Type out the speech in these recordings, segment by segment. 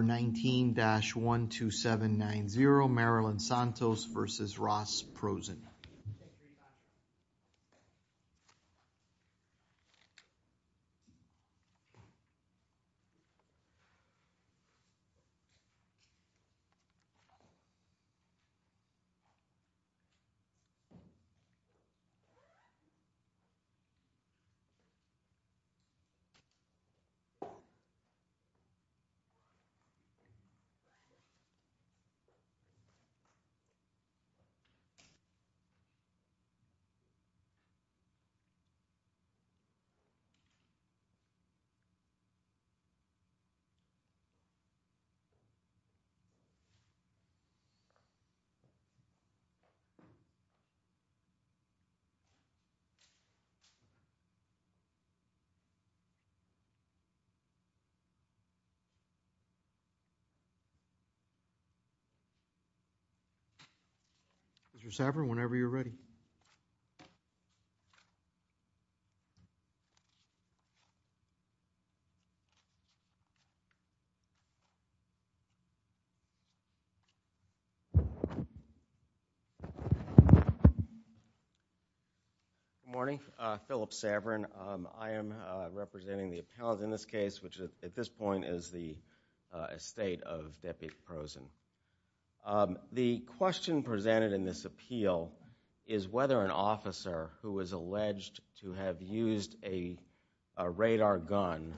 19-12790 Marilyn Santos v. Ross Prosen 19-12790 Marilyn Santos v. Ross Prosen Mr. Saverin, whenever you're ready. Good morning, Philip Saverin. I am representing the appellate in this case, which at this point is the estate of Deputy Prosen. The question presented in this appeal is whether an officer who is alleged to have used a radar gun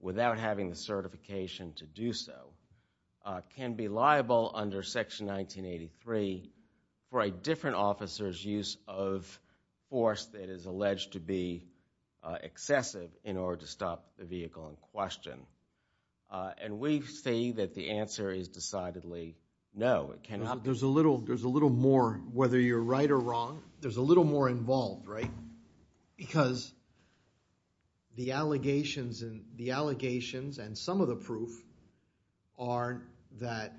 without having the certification to do so can be liable under Section 1983 for a veteran officer's use of force that is alleged to be excessive in order to stop the vehicle in question. And we say that the answer is decidedly no. There's a little more, whether you're right or wrong, there's a little more involved, right? Because the allegations and some of the proof are that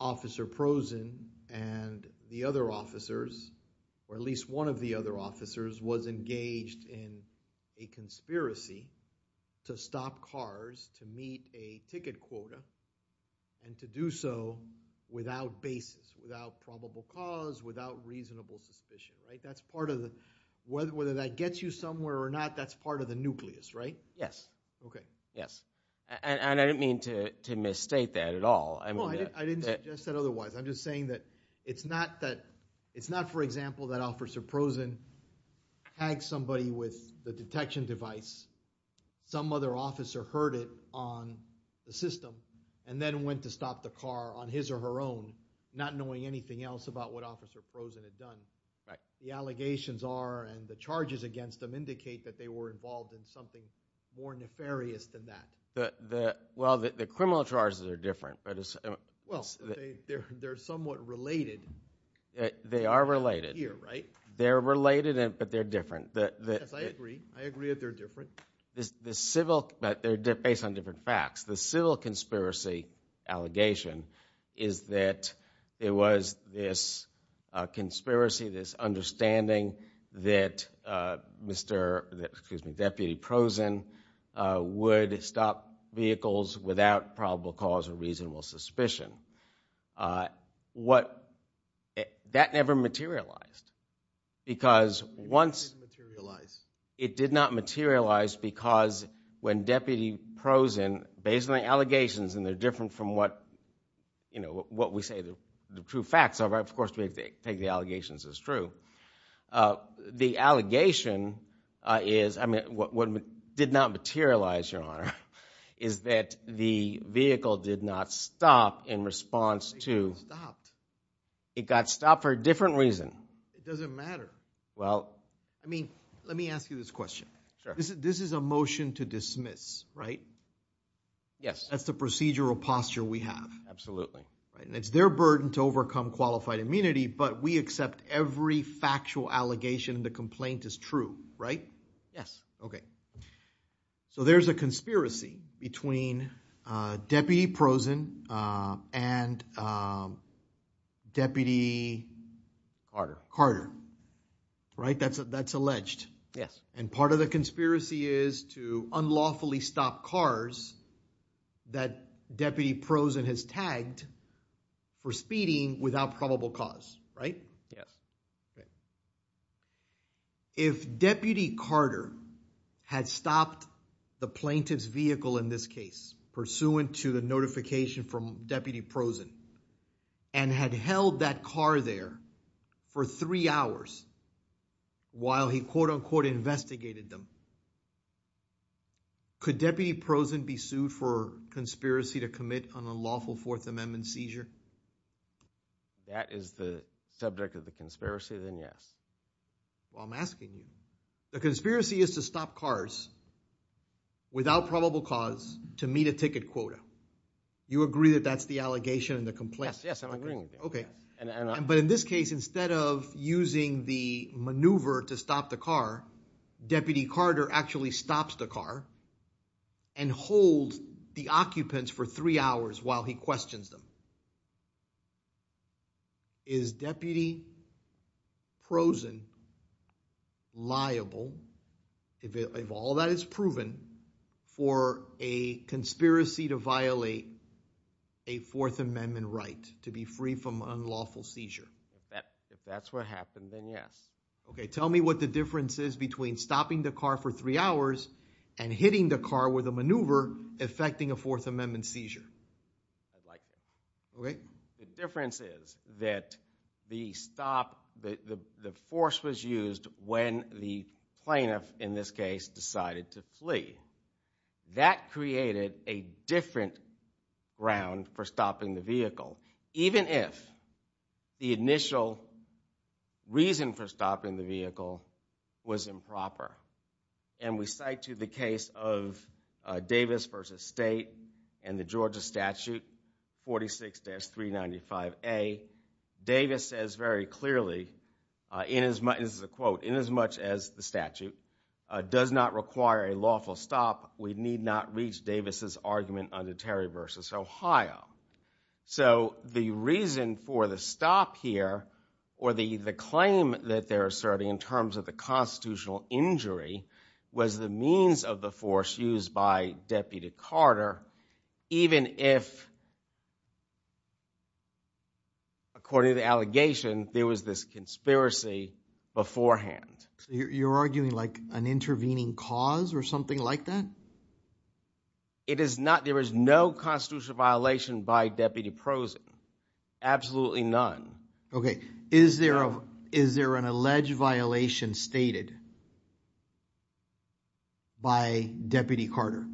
Officer Prosen and the other officers, or at least one of the other officers, was engaged in a conspiracy to stop cars to meet a ticket quota and to do so without basis, without probable cause, without reasonable suspicion, right? That's part of the, whether that gets you somewhere or not, that's part of the nucleus, right? Yes. Okay. Yes. And I didn't mean to misstate that at all. No, I didn't suggest that otherwise. I'm just saying that it's not that, it's not, for example, that Officer Prosen tagged somebody with the detection device, some other officer heard it on the system, and then went to stop the car on his or her own, not knowing anything else about what Officer Prosen had done. Right. The allegations are, and the charges against them indicate that they were involved in something more nefarious than that. Well, the criminal charges are different. Well, they're somewhat related. They are related. Here, right? They're related, but they're different. Yes, I agree. I agree that they're different. But they're based on different facts. The civil conspiracy allegation is that there was this conspiracy, this understanding that Mr., excuse me, Deputy Prosen would stop vehicles without probable cause or reasonable suspicion. What, that never materialized, because once... It did materialize. It did materialize because when Deputy Prosen, based on the allegations, and they're different from what, you know, what we say the true facts are, of course, we take the allegations as true, the allegation is, I mean, what did not materialize, Your Honor, is that the vehicle did not stop in response to... It stopped. It got stopped for a different reason. It doesn't matter. Well... I mean, let me ask you this question. Sure. This is a motion to dismiss, right? Yes. That's the procedural posture we have. Absolutely. And it's their burden to overcome qualified immunity, but we accept every factual allegation in the complaint as true, right? Yes. Okay. So there's a conspiracy between Deputy Prosen and Deputy... Carter. Carter, right? That's alleged. Yes. And part of the conspiracy is to unlawfully stop cars that Deputy Prosen has tagged for speeding without probable cause, right? Yes. Okay. If Deputy Carter had stopped the plaintiff's vehicle in this case, pursuant to the notification from Deputy Prosen, and had held that car there for three hours while he, quote-unquote, investigated them, could Deputy Prosen be sued for conspiracy to commit an unlawful Fourth Amendment seizure? That is the subject of the conspiracy, then, yes. Well, I'm asking you. The conspiracy is to stop cars without probable cause to meet a ticket quota. You agree that that's the allegation in the complaint? Yes, yes. I'm agreeing with you. Okay. But in this case, instead of using the maneuver to stop the car, Deputy Carter actually stops the car and holds the occupants for three hours while he questions them. Is Deputy Prosen liable, if all that is proven, for a conspiracy to violate a Fourth Amendment right to be free from unlawful seizure? If that's what happened, then yes. Okay. Tell me what the difference is between stopping the car for three hours and hitting the car with a maneuver affecting a Fourth Amendment seizure. I'd like that. Okay. The difference is that the stop, the force was used when the plaintiff, in this case, decided to flee. That created a different ground for stopping the vehicle, even if the initial reason for stopping the vehicle was improper. And we cite you the case of Davis v. State and the Georgia statute 46-395A. Davis says very clearly, this is a quote, inasmuch as the statute does not require a lawful stop, we need not reach Davis' argument under Terry v. Ohio. So, the reason for the stop here, or the claim that they're asserting in terms of the constitutional injury, was the means of the force used by Deputy Carter, even if, according to the allegation, there was this conspiracy beforehand. You're arguing like an intervening cause or something like that? It is not. There is no constitutional violation by Deputy Prosen. Absolutely none. Okay. Is there an alleged violation stated by Deputy Carter?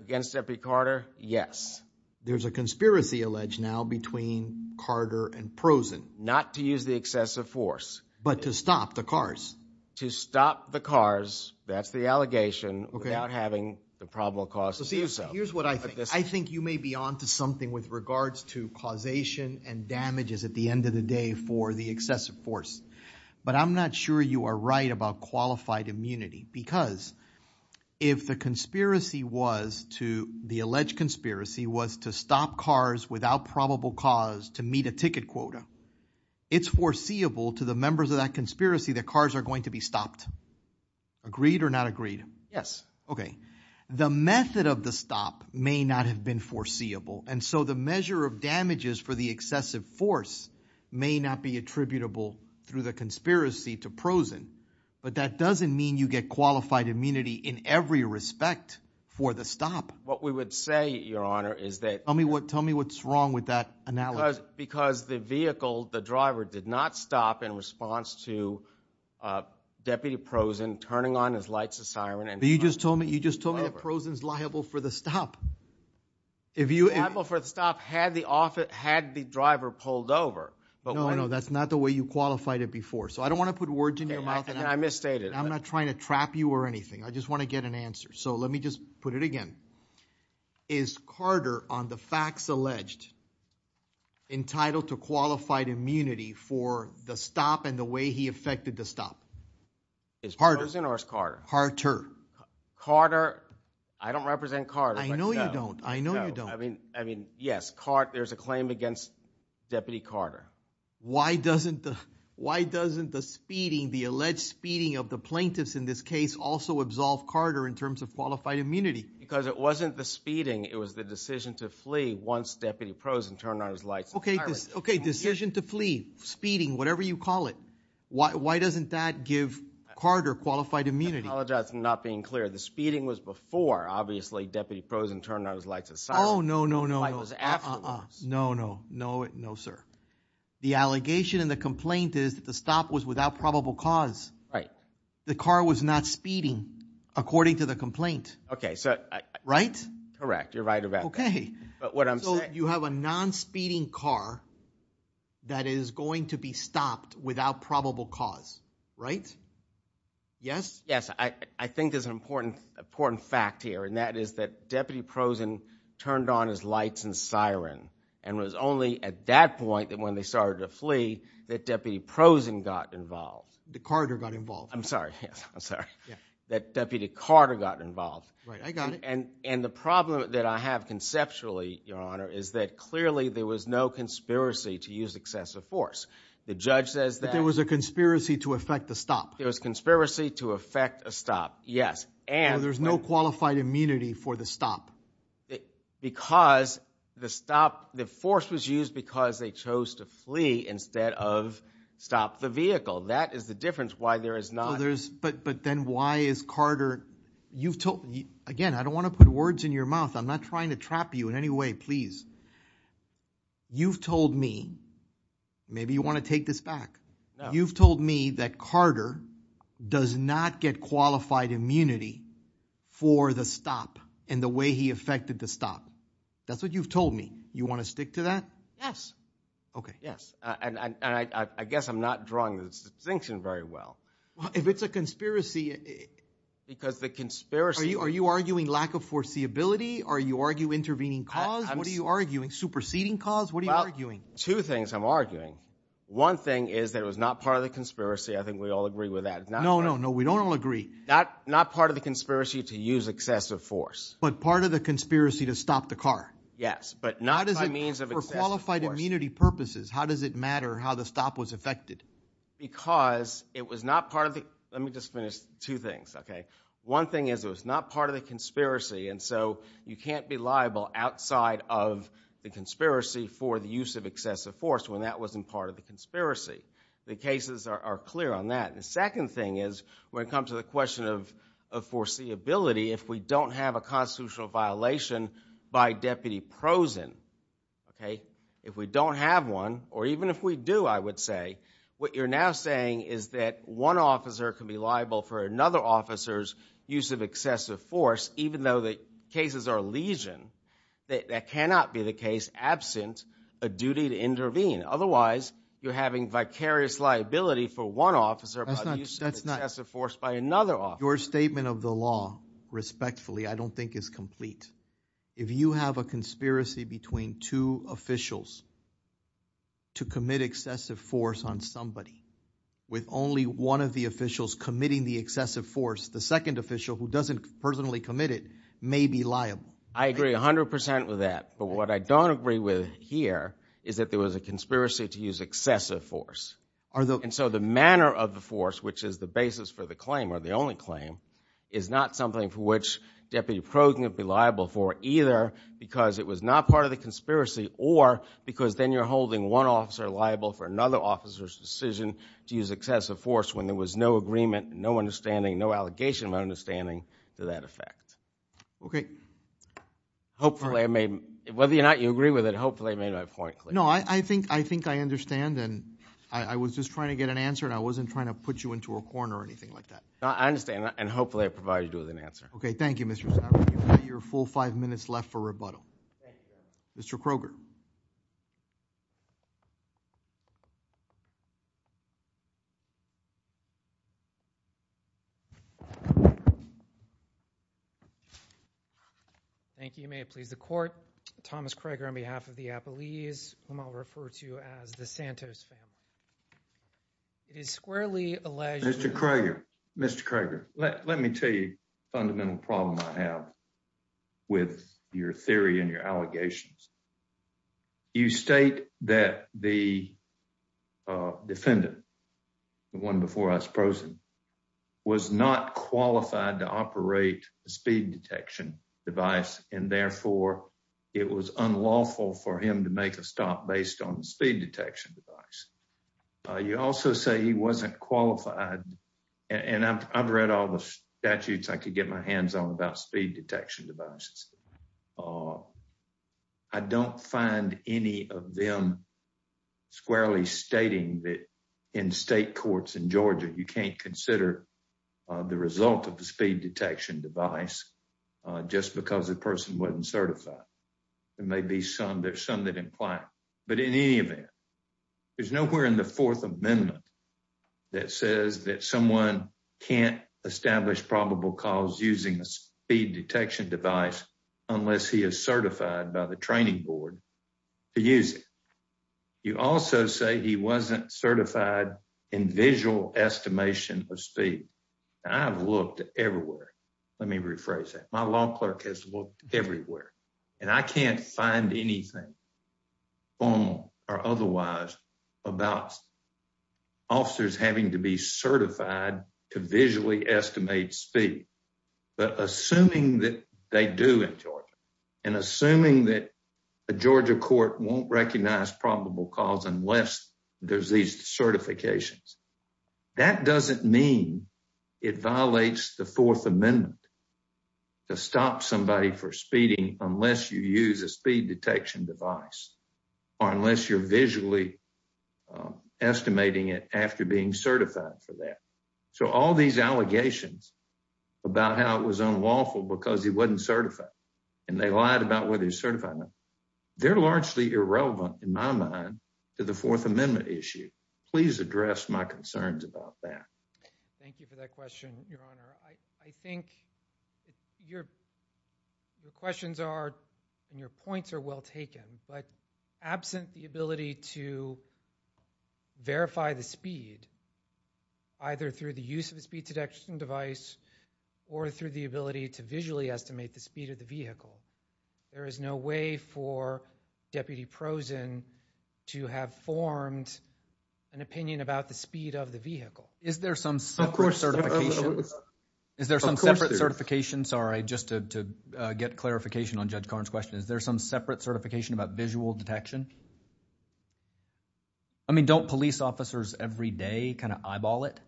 Against Deputy Carter, yes. There's a conspiracy alleged now between Carter and Prosen. Not to use the excessive force. But to stop the cars. To stop the cars, that's the allegation, without having the probable cause to do so. Here's what I think. I think you may be on to something with regards to causation and damages at the end of the day for the excessive force. But I'm not sure you are right about qualified immunity. Because if the conspiracy was to, the alleged conspiracy, was to stop cars without probable cause to meet a ticket quota, it's foreseeable to the members of that conspiracy that cars are going to be stopped. Agreed or not agreed? Yes. Okay. The method of the stop may not have been foreseeable. And so the measure of damages for the excessive force may not be attributable through the conspiracy to Prosen. But that doesn't mean you get qualified immunity in every respect for the stop. What we would say, Your Honor, is that... Tell me what's wrong with that analogy. Because the vehicle, the driver, did not stop in response to Deputy Prosen turning on his lights and siren and... But you just told me that Prosen's liable for the stop. Liable for the stop had the driver pulled over. No, no, no. That's not the way you qualified it before. So I don't want to put words in your mouth. And I misstated. I'm not trying to trap you or anything. I just want to get an answer. So let me just put it again. Is Carter, on the facts alleged, entitled to qualified immunity for the stop and the way he affected the stop? Is Prosen or is Carter? Carter. Carter. I don't represent Carter. I know you don't. I know you don't. I mean, yes. There's a claim against Deputy Carter. Why doesn't the speeding, the alleged speeding of the plaintiffs in this case, also absolve Carter in terms of qualified immunity? Because it wasn't the speeding, it was the decision to flee once Deputy Prosen turned on his lights and siren. Okay. Decision to flee. Speeding. Whatever you call it. Why doesn't that give Carter qualified immunity? I apologize for not being clear. The speeding was before, obviously, Deputy Prosen turned on his lights and siren. Oh, no, no, no, no. The flight was afterwards. No, no. No, sir. The allegation in the complaint is that the stop was without probable cause. Right. The car was not speeding according to the complaint. Okay, so. Right? Correct. You're right about that. Okay. But what I'm saying. So you have a non-speeding car that is going to be stopped without probable cause, right? Yes. Yes. I think there's an important fact here, and that is that Deputy Prosen turned on his lights and siren, and it was only at that point, when they started to flee, that Deputy Prosen got involved. That Carter got involved. I'm sorry. Yes. I'm sorry. Yes. That Deputy Carter got involved. Right. I got it. And the problem that I have conceptually, Your Honor, is that clearly there was no conspiracy to use excessive force. The judge says that. But there was a conspiracy to affect the stop. There was a conspiracy to affect a stop. Yes. And. There's no qualified immunity for the stop. Because the stop, the force was used because they chose to flee instead of stop the vehicle. That is the difference why there is not. But then why is Carter, you've told, again, I don't want to put words in your mouth. I'm not trying to trap you in any way, please. You've told me, maybe you want to take this back. You've told me that Carter does not get qualified immunity for the stop and the way he affected the stop. That's what you've told me. You want to stick to that? Yes. Okay. Yes. And I guess I'm not drawing the distinction very well. Well, if it's a conspiracy. Because the conspiracy. Are you arguing lack of foreseeability? Are you arguing intervening cause? What are you arguing? Superseding cause? What are you arguing? Two things I'm arguing. One thing is that it was not part of the conspiracy. I think we all agree with that. No, no, no. We don't all agree. Not part of the conspiracy to use excessive force. But part of the conspiracy to stop the car. Yes. But not by means of excessive force. For qualified immunity purposes, how does it matter how the stop was affected? Because it was not part of the, let me just finish two things, okay? One thing is it was not part of the conspiracy. And so you can't be liable outside of the conspiracy for the use of excessive force when that wasn't part of the conspiracy. The cases are clear on that. The second thing is when it comes to the question of foreseeability, if we don't have a constitutional violation by Deputy Prozen, okay? If we don't have one, or even if we do, I would say, what you're now saying is that one officer can be liable for another officer's use of excessive force, even though the cases are legion, that cannot be the case absent a duty to intervene. Otherwise, you're having vicarious liability for one officer by the use of excessive force by another officer. That's not, that's not. Your statement of the law, respectfully, I don't think is complete. If you have a conspiracy between two officials to commit excessive force on somebody, with only one of the officials committing the excessive force, the second official who doesn't personally commit it may be liable. I agree 100% with that, but what I don't agree with here is that there was a conspiracy to use excessive force. And so the manner of the force, which is the basis for the claim, or the only claim, is not something for which Deputy Prozen would be liable for, either because it was not part of the conspiracy, or because then you're holding one officer liable for another officer's decision to use excessive force when there was no agreement, no understanding, no allegation of understanding to that effect. Okay. Hopefully, I may, whether or not you agree with it, hopefully I made my point clear. No, I think, I think I understand, and I was just trying to get an answer, and I wasn't trying to put you into a corner or anything like that. No, I understand, and hopefully I provided you with an answer. Okay, thank you, Mr. Snyder. You've got your full five minutes left for rebuttal. Mr. Kroger. Thank you. You may have pleased the court. Thomas Kroger on behalf of the Apolles, whom I'll refer to as the Santos family. It is squarely alleged that- Mr. Kroger, Mr. Kroger, let me tell you a fundamental problem I have with your theory and your allegations. You state that the defendant, the one before us, Prosen, was not qualified to operate a speed detection device, and therefore, it was unlawful for him to make a stop based on the speed detection device. You also say he wasn't qualified, and I've read all the statutes I could get my hands on about speed detection devices. I don't find any of them squarely stating that in state courts in Georgia, you can't consider the result of the speed detection device just because a person wasn't certified. There may be some, there's some that imply, but in any event, there's nowhere in the Fourth Amendment speed detection device unless he is certified by the training board to use it. You also say he wasn't certified in visual estimation of speed. I've looked everywhere. Let me rephrase that. My law clerk has looked everywhere, and I can't find anything formal or otherwise about officers having to be certified to visually estimate speed, but assuming that they do in Georgia, and assuming that a Georgia court won't recognize probable cause unless there's these certifications, that doesn't mean it violates the Fourth Amendment to stop somebody for speeding unless you use a speed detection device, or unless you're visually estimating it after being certified for that. So all these allegations about how it was unlawful because he wasn't certified, and they lied about whether he was certified or not, they're largely irrelevant in my mind to the Fourth Amendment issue. Please address my concerns about that. Thank you for that question, Your Honor. I think your questions are, and your points are well taken, but absent the ability to verify the speed, either through the use of a speed detection device or through the ability to visually estimate the speed of the vehicle, there is no way for Deputy Prozen to have formed an opinion about the speed of the vehicle. Is there some separate certification? Is there some separate certification, sorry, just to get clarification on Judge Karn's question. Is there some separate certification about visual detection? I mean, don't police officers every day kind of eyeball it?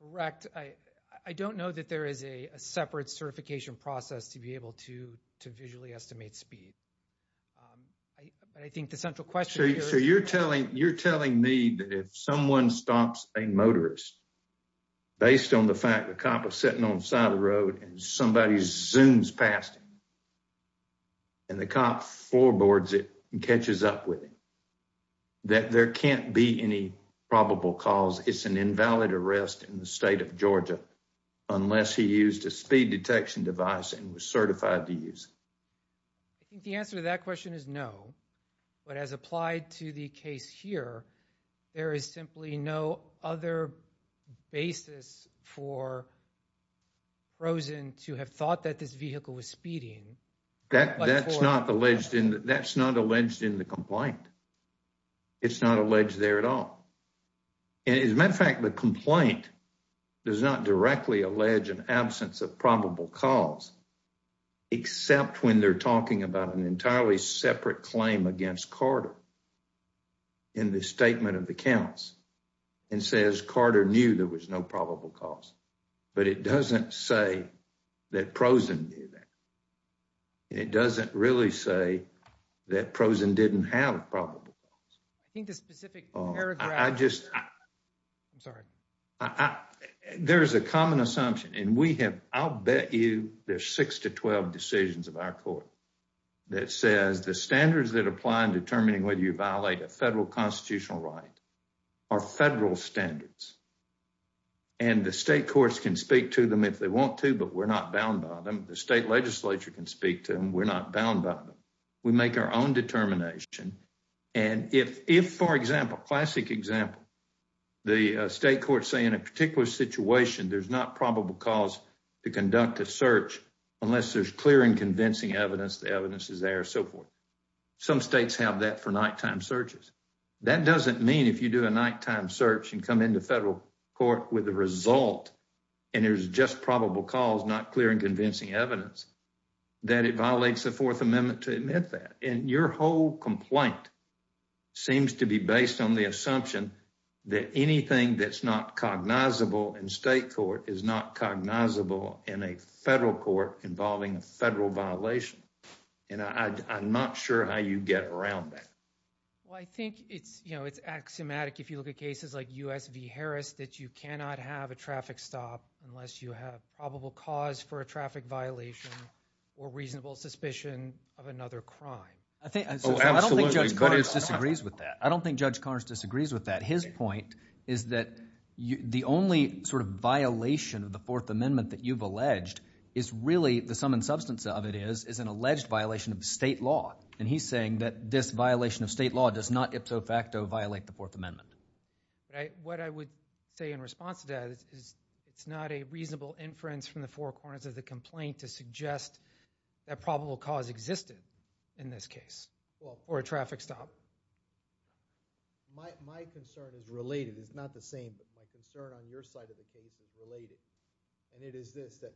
Correct. I don't know that there is a separate certification process to be able to visually estimate speed. But I think the central question here is... So you're telling me that if someone stops a motorist based on the fact the cop is sitting on the side of the road and somebody zooms past him and the cop floorboards it and catches up with him, that there can't be any probable cause it's an invalid arrest in the state of Georgia unless he used a speed detection device and was certified to use it? I think the answer to that question is no. But as applied to the case here, there is simply no other basis for Prozen to have thought that this vehicle was speeding. That's not alleged in the complaint. It's not alleged there at all. And as a matter of fact, the complaint does not directly allege an absence of probable cause, except when they're talking about an entirely separate claim against Carter in the statement of the counts and says Carter knew there was no probable cause. But it doesn't say that Prozen did that. It doesn't really say that Prozen didn't have a probable cause. I think the specific paragraph... I'm sorry. There is a common assumption and we have, I'll bet you there's six to 12 decisions of our court that says the standards that apply in determining whether you violate a federal constitutional right are federal standards. And the state courts can speak to them if they want to, but we're not bound by them. The state legislature can speak to them. We're not bound by them. We make our own determination. And if, for example, classic example, the state courts say in a particular situation, there's not probable cause to conduct a search unless there's clear and convincing evidence, the evidence is there, so forth. Some states have that for nighttime searches. That doesn't mean if you do a nighttime search and come into federal court with a result and there's just probable cause, not clear and convincing evidence, that it violates the Fourth Amendment to admit that. And your whole complaint seems to be based on the assumption that anything that's not cognizable in state court is not cognizable in a federal court involving a federal violation. And I'm not sure how you get around that. Well, I think it's axiomatic if you look at cases like US v. Harris that you cannot have a traffic stop unless you have probable cause for a traffic violation or reasonable suspicion of another crime. Oh, absolutely. I don't think Judge Connors disagrees with that. I don't think Judge Connors disagrees with that. His point is that the only sort of violation of the Fourth Amendment that you've alleged is really, the sum and substance of it is, is an alleged violation of state law. And he's saying that this violation of state law does not ipso facto violate the Fourth Amendment. What I would say in response to that is it's not a reasonable inference from the four corners of the complaint to suggest that probable cause existed in this case, or a traffic stop. My concern is related. It's not the same, but my concern on your side of the case is related. And it is this, that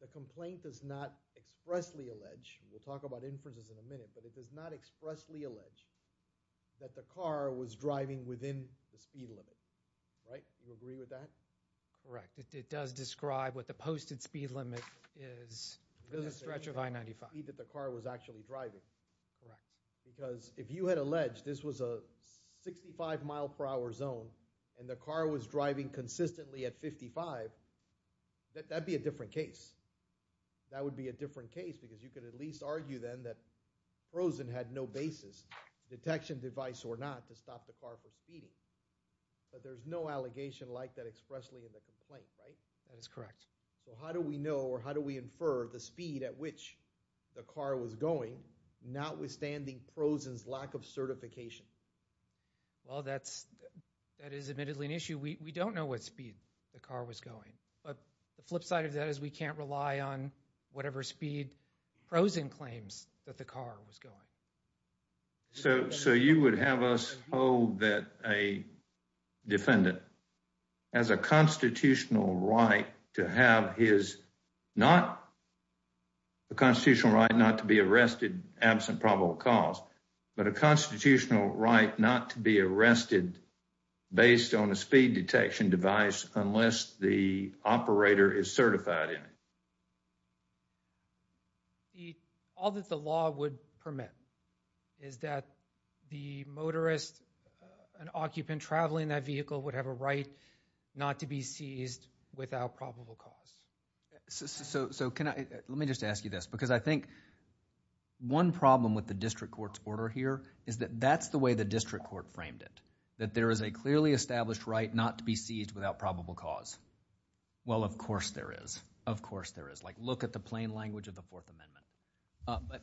the complaint does not expressly allege, and we'll talk about inferences in a minute, but it does not expressly allege that the car was driving within the speed limit. Right? Do you agree with that? Correct. It does describe what the posted speed limit is, the stretch of I-95. Because if you had alleged this was a 65 mile per hour zone, and the car was driving consistently at 55, that, that'd be a different case. That would be a different case because you could at least argue then that Frozen had no basis, detection device or not, to stop the car from speeding, but there's no allegation like that expressly in the complaint, right? That is correct. So how do we know, or how do we infer the speed at which the car was going, notwithstanding Frozen's lack of certification? Well, that's, that is admittedly an issue. We don't know what speed the car was going, but the flip side of that is we can't rely on whatever speed Frozen claims that the car was going. So, so you would have us hold that a defendant has a constitutional right to have his, not a constitutional right not to be arrested absent probable cause, but a constitutional right not to be arrested based on a speed detection device unless the operator is certified in it. The, all that the law would permit is that the motorist, an occupant traveling that vehicle would have a right not to be seized without probable cause. So, so, so can I, let me just ask you this because I think one problem with the district court's order here is that that's the way the district court framed it, that there is a clearly established right not to be seized without probable cause. Well, of course there is. Of course there is. Like look at the plain language of the Fourth Amendment.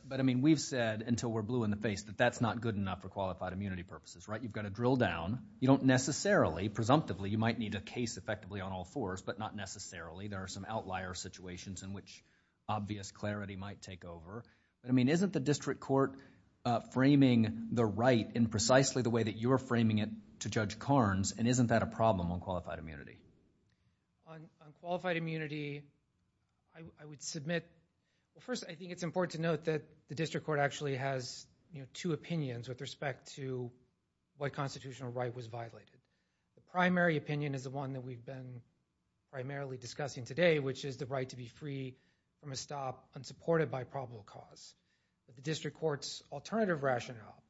But I mean we've said until we're blue in the face that that's not good enough for qualified immunity purposes, right? You've got to drill down. You don't necessarily, presumptively, you might need a case effectively on all fours, but not necessarily. There are some outlier situations in which obvious clarity might take over, but I mean isn't the district court framing the right in precisely the way that you're framing it to Judge Carnes and isn't that a problem on qualified immunity? On qualified immunity, I would submit, well first I think it's important to note that the district court actually has, you know, two opinions with respect to what constitutional right was violated. The primary opinion is the one that we've been primarily discussing today, which is the right to be free from a stop unsupported by probable cause. But the district court's alternative rationale,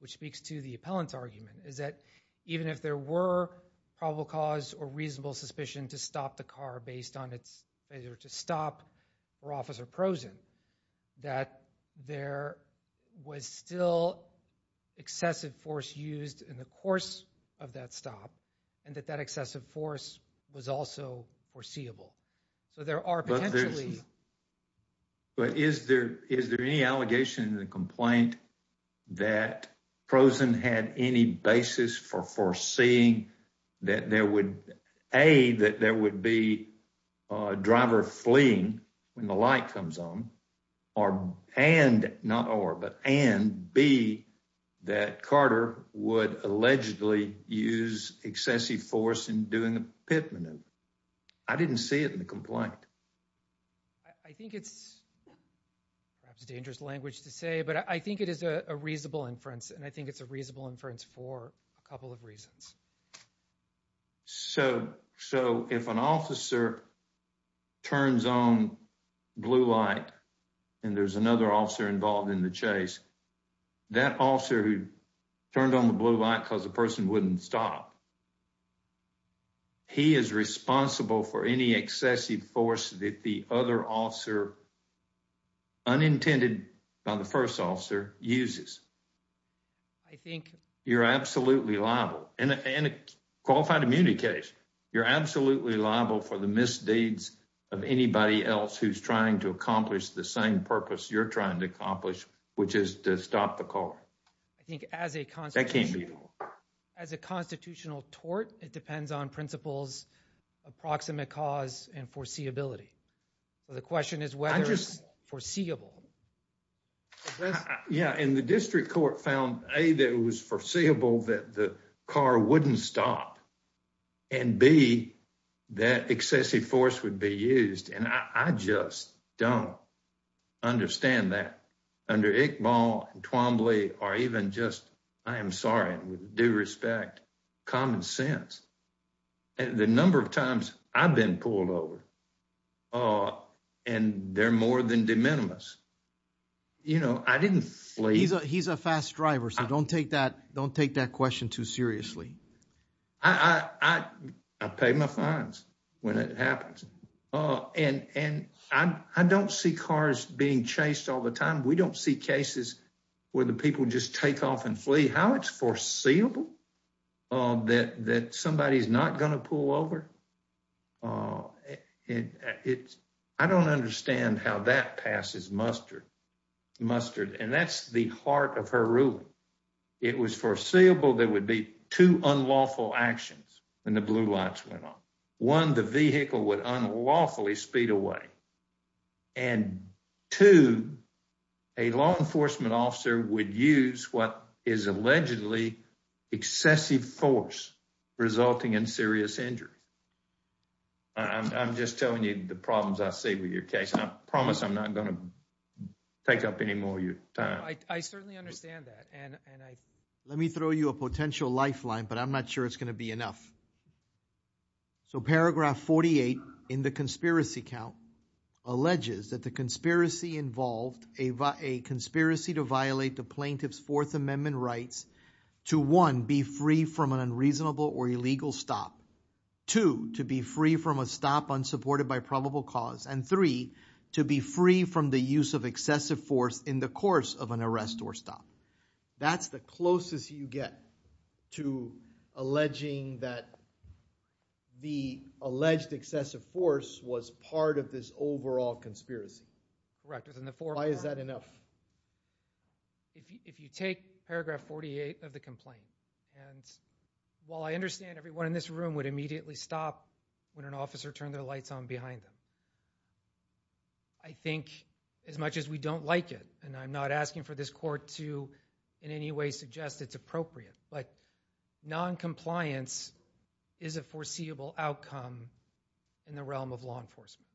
which speaks to the appellant's argument, is that even if there were probable cause or reasonable suspicion to stop the car based on its failure to stop for Officer Prosen, that there was still excessive force used in the course of that stop, and that that excessive force was also foreseeable. So there are potentially... But is there any allegation in the complaint that Prosen had any basis for foreseeing that there would, A, that there would be a driver fleeing when the light comes on, and B, that Carter would allegedly use excessive force in doing a pit maneuver? I didn't see it in the complaint. I think it's, perhaps it's dangerous language to say, but I think it is a reasonable inference and I think it's a reasonable inference for a couple of reasons. So if an officer turns on blue light and there's another officer involved in the chase, that officer who turned on the blue light because the person wouldn't stop, he is responsible for any excessive force that the other officer, unintended by the first officer, uses. I think... You're absolutely liable, in a qualified immunity case, you're absolutely liable for the misdeeds of anybody else who's trying to accomplish the same purpose you're trying to accomplish, which is to stop the car. I think as a constitutional... That can't be... and foreseeability. So the question is whether it's foreseeable. Yeah, and the district court found, A, that it was foreseeable that the car wouldn't stop, and B, that excessive force would be used, and I just don't understand that. Under Iqbal and Twombly, or even just, I am sorry, with due respect, common sense. The number of times I've been pulled over, and they're more than de minimis. You know, I didn't flee. He's a fast driver, so don't take that question too seriously. I pay my fines when it happens. And I don't see cars being chased all the time. We don't see cases where the people just take off and flee. I don't see how it's foreseeable that somebody's not going to pull over. I don't understand how that passes mustard, and that's the heart of her ruling. It was foreseeable there would be two unlawful actions when the blue lights went on. One, the vehicle would unlawfully speed away, and two, a law enforcement officer would use what is allegedly excessive force resulting in serious injury. I'm just telling you the problems I see with your case, and I promise I'm not going to take up any more of your time. I certainly understand that, and let me throw you a potential lifeline, but I'm not sure it's going to be enough. So paragraph 48 in the conspiracy count alleges that the conspiracy involved a conspiracy to violate the plaintiff's Fourth Amendment rights to one, be free from an unreasonable or illegal stop, two, to be free from a stop unsupported by probable cause, and three, to be free from the use of excessive force in the course of an arrest or stop. That's the closest you get to alleging that the alleged excessive force was part of this overall conspiracy. Why is that enough? If you take paragraph 48 of the complaint, and while I understand everyone in this room would immediately stop when an officer turned their lights on behind them, I think as much as we don't like it, and I'm not asking for this court to in any way suggest it's appropriate, but noncompliance is a foreseeable outcome in the realm of law enforcement.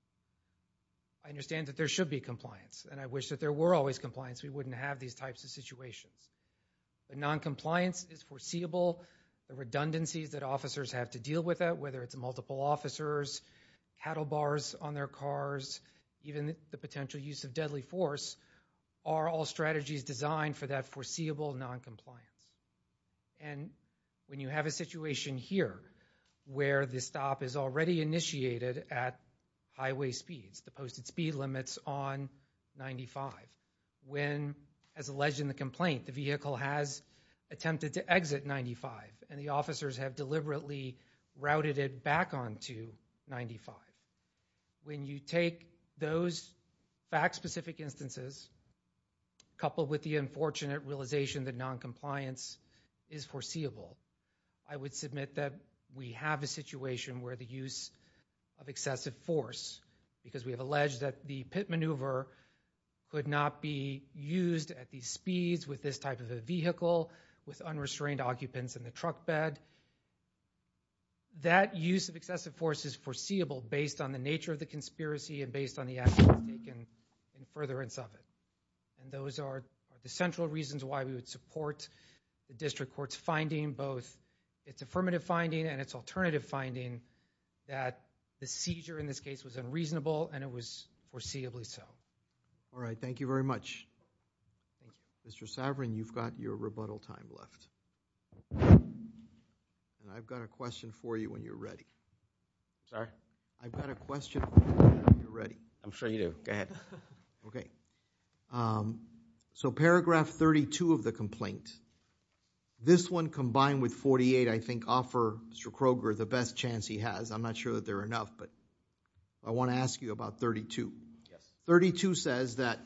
I understand that there should be compliance, and I wish that there were always compliance, we wouldn't have these types of situations. But noncompliance is foreseeable, the redundancies that officers have to deal with it, whether it's multiple officers, cattle bars on their cars, even the potential use of deadly force, are all strategies designed for that foreseeable noncompliance. And when you have a situation here, where the stop is already initiated at highway speeds, the posted speed limits on 95, when, as alleged in the complaint, the vehicle has attempted to exit 95, and the officers have deliberately routed it back onto 95, when you take those fact-specific instances, coupled with the unfortunate realization that noncompliance is foreseeable, I would submit that we have a situation where the use of excessive force, because we have alleged that the pit maneuver could not be used at these speeds with this type of a vehicle, with unrestrained occupants in the truck bed, that use of excessive force is foreseeable based on the nature of the conspiracy and based on the actions taken in furtherance of it. And those are the central reasons why we would support the District Court's finding, both its affirmative finding and its alternative finding, that the seizure in this case was unreasonable and it was foreseeably so. All right. Thank you very much. Mr. Saverin, you've got your rebuttal time left. And I've got a question for you when you're ready. Sorry? I've got a question for you when you're ready. I'm sure you do. Go ahead. Okay. So paragraph 32 of the complaint, this one combined with 48, I think, offer Mr. Kroger the best chance he has. I'm not sure that they're enough, but I want to ask you about 32. Yes. 32 says that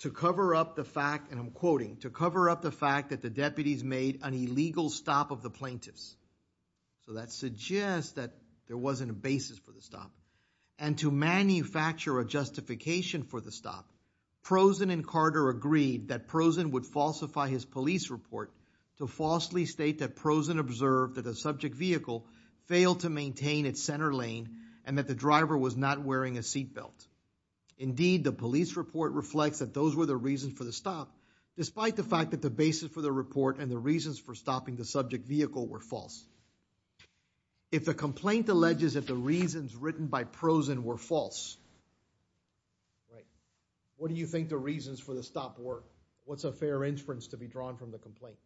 to cover up the fact, and I'm quoting, to cover up the fact that the deputies made an illegal stop of the plaintiffs, so that suggests that there wasn't a basis for the stop, and to manufacture a justification for the stop, Prozen and Carter agreed that Prozen would falsify his police report to falsely state that Prozen observed that the subject vehicle failed to maintain its center lane and that the driver was not wearing a seat belt. Indeed, the police report reflects that those were the reasons for the stop, despite the fact that the basis for the report and the reasons for stopping the subject vehicle were false. If the complaint alleges that the reasons written by Prozen were false... Right. What do you think the reasons for the stop were? What's a fair inference to be drawn from the complaint?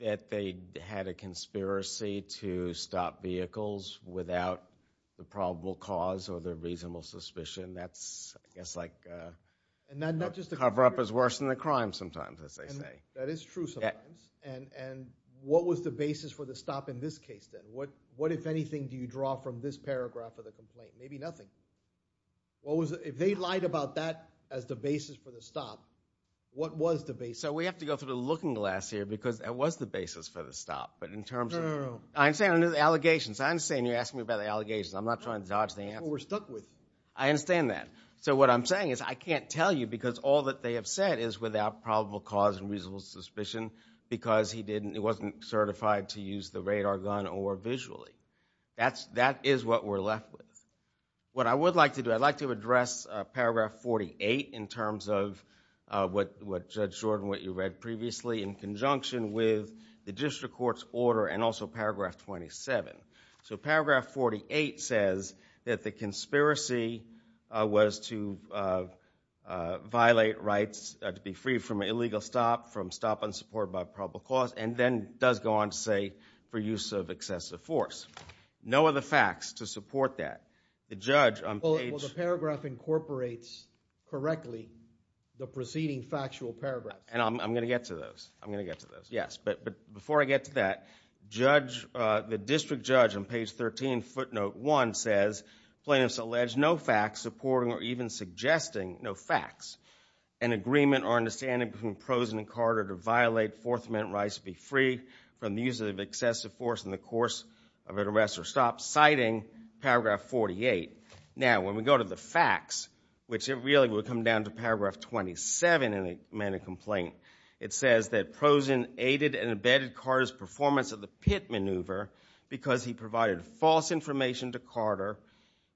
That they had a conspiracy to stop vehicles without the probable cause or the reasonable suspicion. That's, I guess, like... And not just a conspiracy. A cover-up is worse than a crime sometimes, as they say. That is true sometimes. And what was the basis for the stop in this case, then? What, if anything, do you draw from this paragraph of the complaint? Maybe nothing. If they lied about that as the basis for the stop, what was the basis? So we have to go through the looking glass here because it was the basis for the stop, but in terms of... No, no, no. I understand the allegations. I understand you're asking me about the allegations. I'm not trying to dodge the answer. We're stuck with you. I understand that. So what I'm saying is I can't tell you because all that they have said is without probable cause and reasonable suspicion because he wasn't certified to use the radar gun or visually. That is what we're left with. What I would like to do, I'd like to address paragraph 48 in terms of what Judge Jordan, what you read previously in conjunction with the district court's order and also paragraph 27. So paragraph 48 says that the conspiracy was to violate rights, to be free from an illegal stop, from stop and support by probable cause, and then does go on to say for use of excessive force. No other facts to support that. The judge on page... Well, the paragraph incorporates correctly the preceding factual paragraph. And I'm going to get to those. I'm going to get to those. Yes, but before I get to that, the district judge on page 13, footnote 1, says, Plaintiffs allege no facts supporting or even suggesting no facts. An agreement or understanding between Prosen and Carter to violate Fourth Amendment rights to be free from the use of excessive force in the course of an arrest or stop, citing paragraph 48. Now, when we go to the facts, which it really would come down to paragraph 27 in the amended complaint, it says that Prosen aided and abetted Carter's performance at the pit maneuver because he provided false information to Carter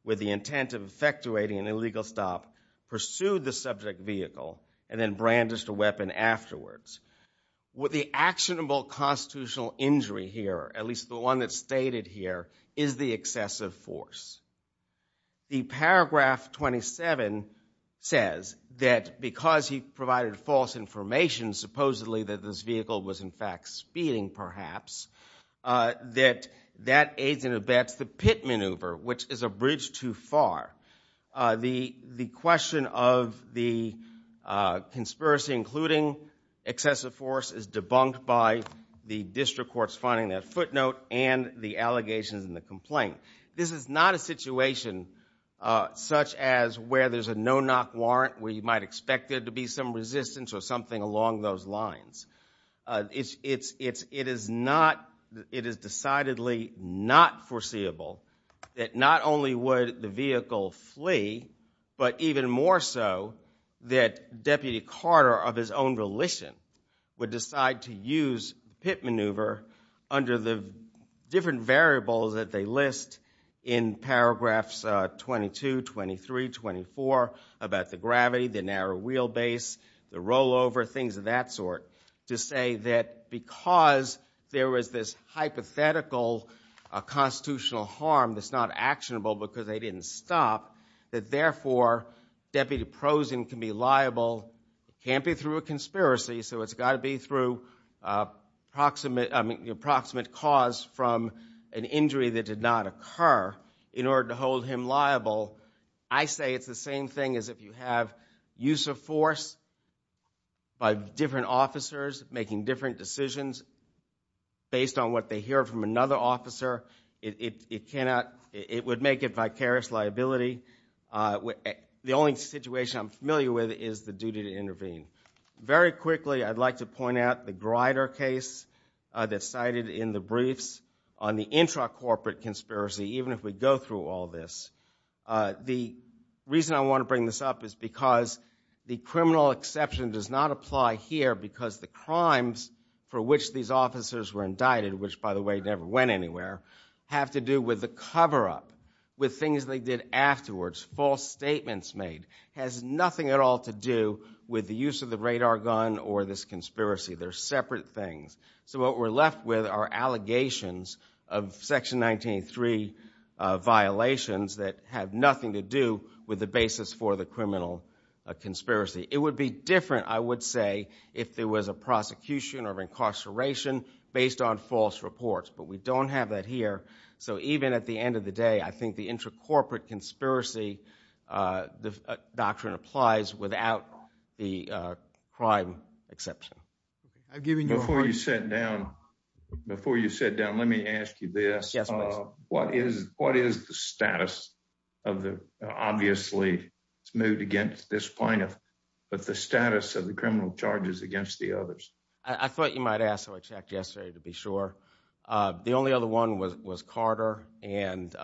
with the intent of effectuating an illegal stop, pursued the subject vehicle, and then brandished a weapon afterwards. The actionable constitutional injury here, at least the one that's stated here, is the excessive force. The paragraph 27 says that because he provided false information, supposedly that this vehicle was in fact speeding, perhaps, that that aids and abets the pit maneuver, which is a bridge too far. The question of the conspiracy, including excessive force, is debunked by the district courts finding that footnote and the allegations in the complaint. This is not a situation such as where there's a no-knock warrant where you might expect there to be some resistance or something along those lines. It is decidedly not foreseeable that not only would the vehicle flee, but even more so that Deputy Carter, of his own volition, would decide to use pit maneuver under the different variables that they list in paragraphs 22, 23, 24, about the gravity, the narrow wheelbase, the rollover, things of that sort, to say that because there was this hypothetical constitutional harm that's not actionable because they didn't stop, that therefore Deputy Prosen can be liable. It can't be through a conspiracy, so it's got to be through the approximate cause from an injury that did not occur in order to hold him liable. I say it's the same thing as if you have use of force by different officers making different decisions based on what they hear from another officer. It would make it vicarious liability. The only situation I'm familiar with is the duty to intervene. Very quickly, I'd like to point out the Grider case that's cited in the briefs on the intra-corporate conspiracy, even if we go through all this. The reason I want to bring this up is because the criminal exception does not apply here because the crimes for which these officers were indicted, which, by the way, never went anywhere, have to do with the cover-up, with things they did afterwards, false statements made, has nothing at all to do with the use of the radar gun or this conspiracy. They're separate things. So what we're left with are allegations of Section 1983 violations that have nothing to do with the basis for the criminal conspiracy. It would be different, I would say, if there was a prosecution or incarceration based on false reports, but we don't have that here. So even at the end of the day, I think the intra-corporate conspiracy doctrine applies without the crime exception. Before you sit down, let me ask you this. What is the status of the... Obviously, it's moved against this plaintiff, but the status of the criminal charges against the others? I thought you might ask, so I checked yesterday to be sure. The only other one was Carter, and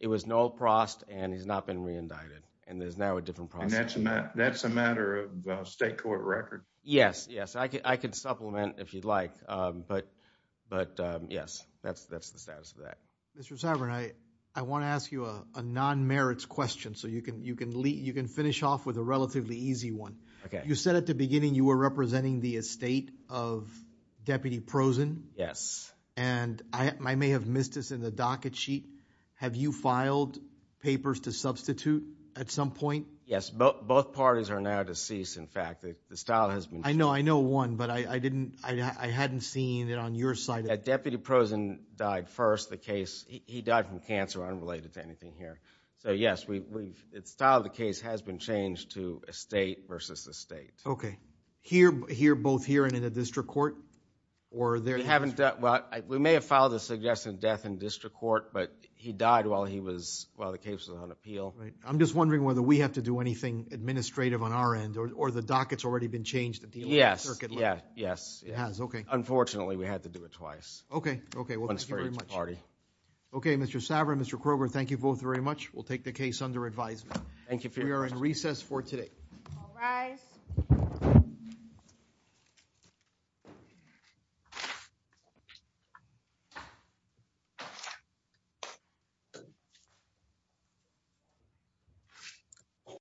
it was Noel Prost, and he's not been re-indicted, and there's now a different process. And that's a matter of state court record? Yes, yes, I could supplement if you'd like, but, yes, that's the status of that. Mr. Sabourin, I want to ask you a non-merits question so you can finish off with a relatively easy one. You said at the beginning you were representing the estate of Deputy Prozin. Yes. And I may have missed this in the docket sheet. Have you filed papers to substitute at some point? Yes, both parties are now deceased, in fact. The style has been... I know one, but I hadn't seen it on your side. Deputy Prozin died first. He died from cancer unrelated to anything here. So, yes, the style of the case has been changed to estate versus estate. Okay. Here, both here and in a district court? We may have filed a suggestion of death in district court, but he died while the case was on appeal. I'm just wondering whether we have to do anything administrative on our end, or the docket's already been changed to deal with the circuit? Yes, yes. It has, okay. Unfortunately, we had to do it twice. Okay, well, thank you very much. We'll take the case under advisement. We are in recess for today. All rise.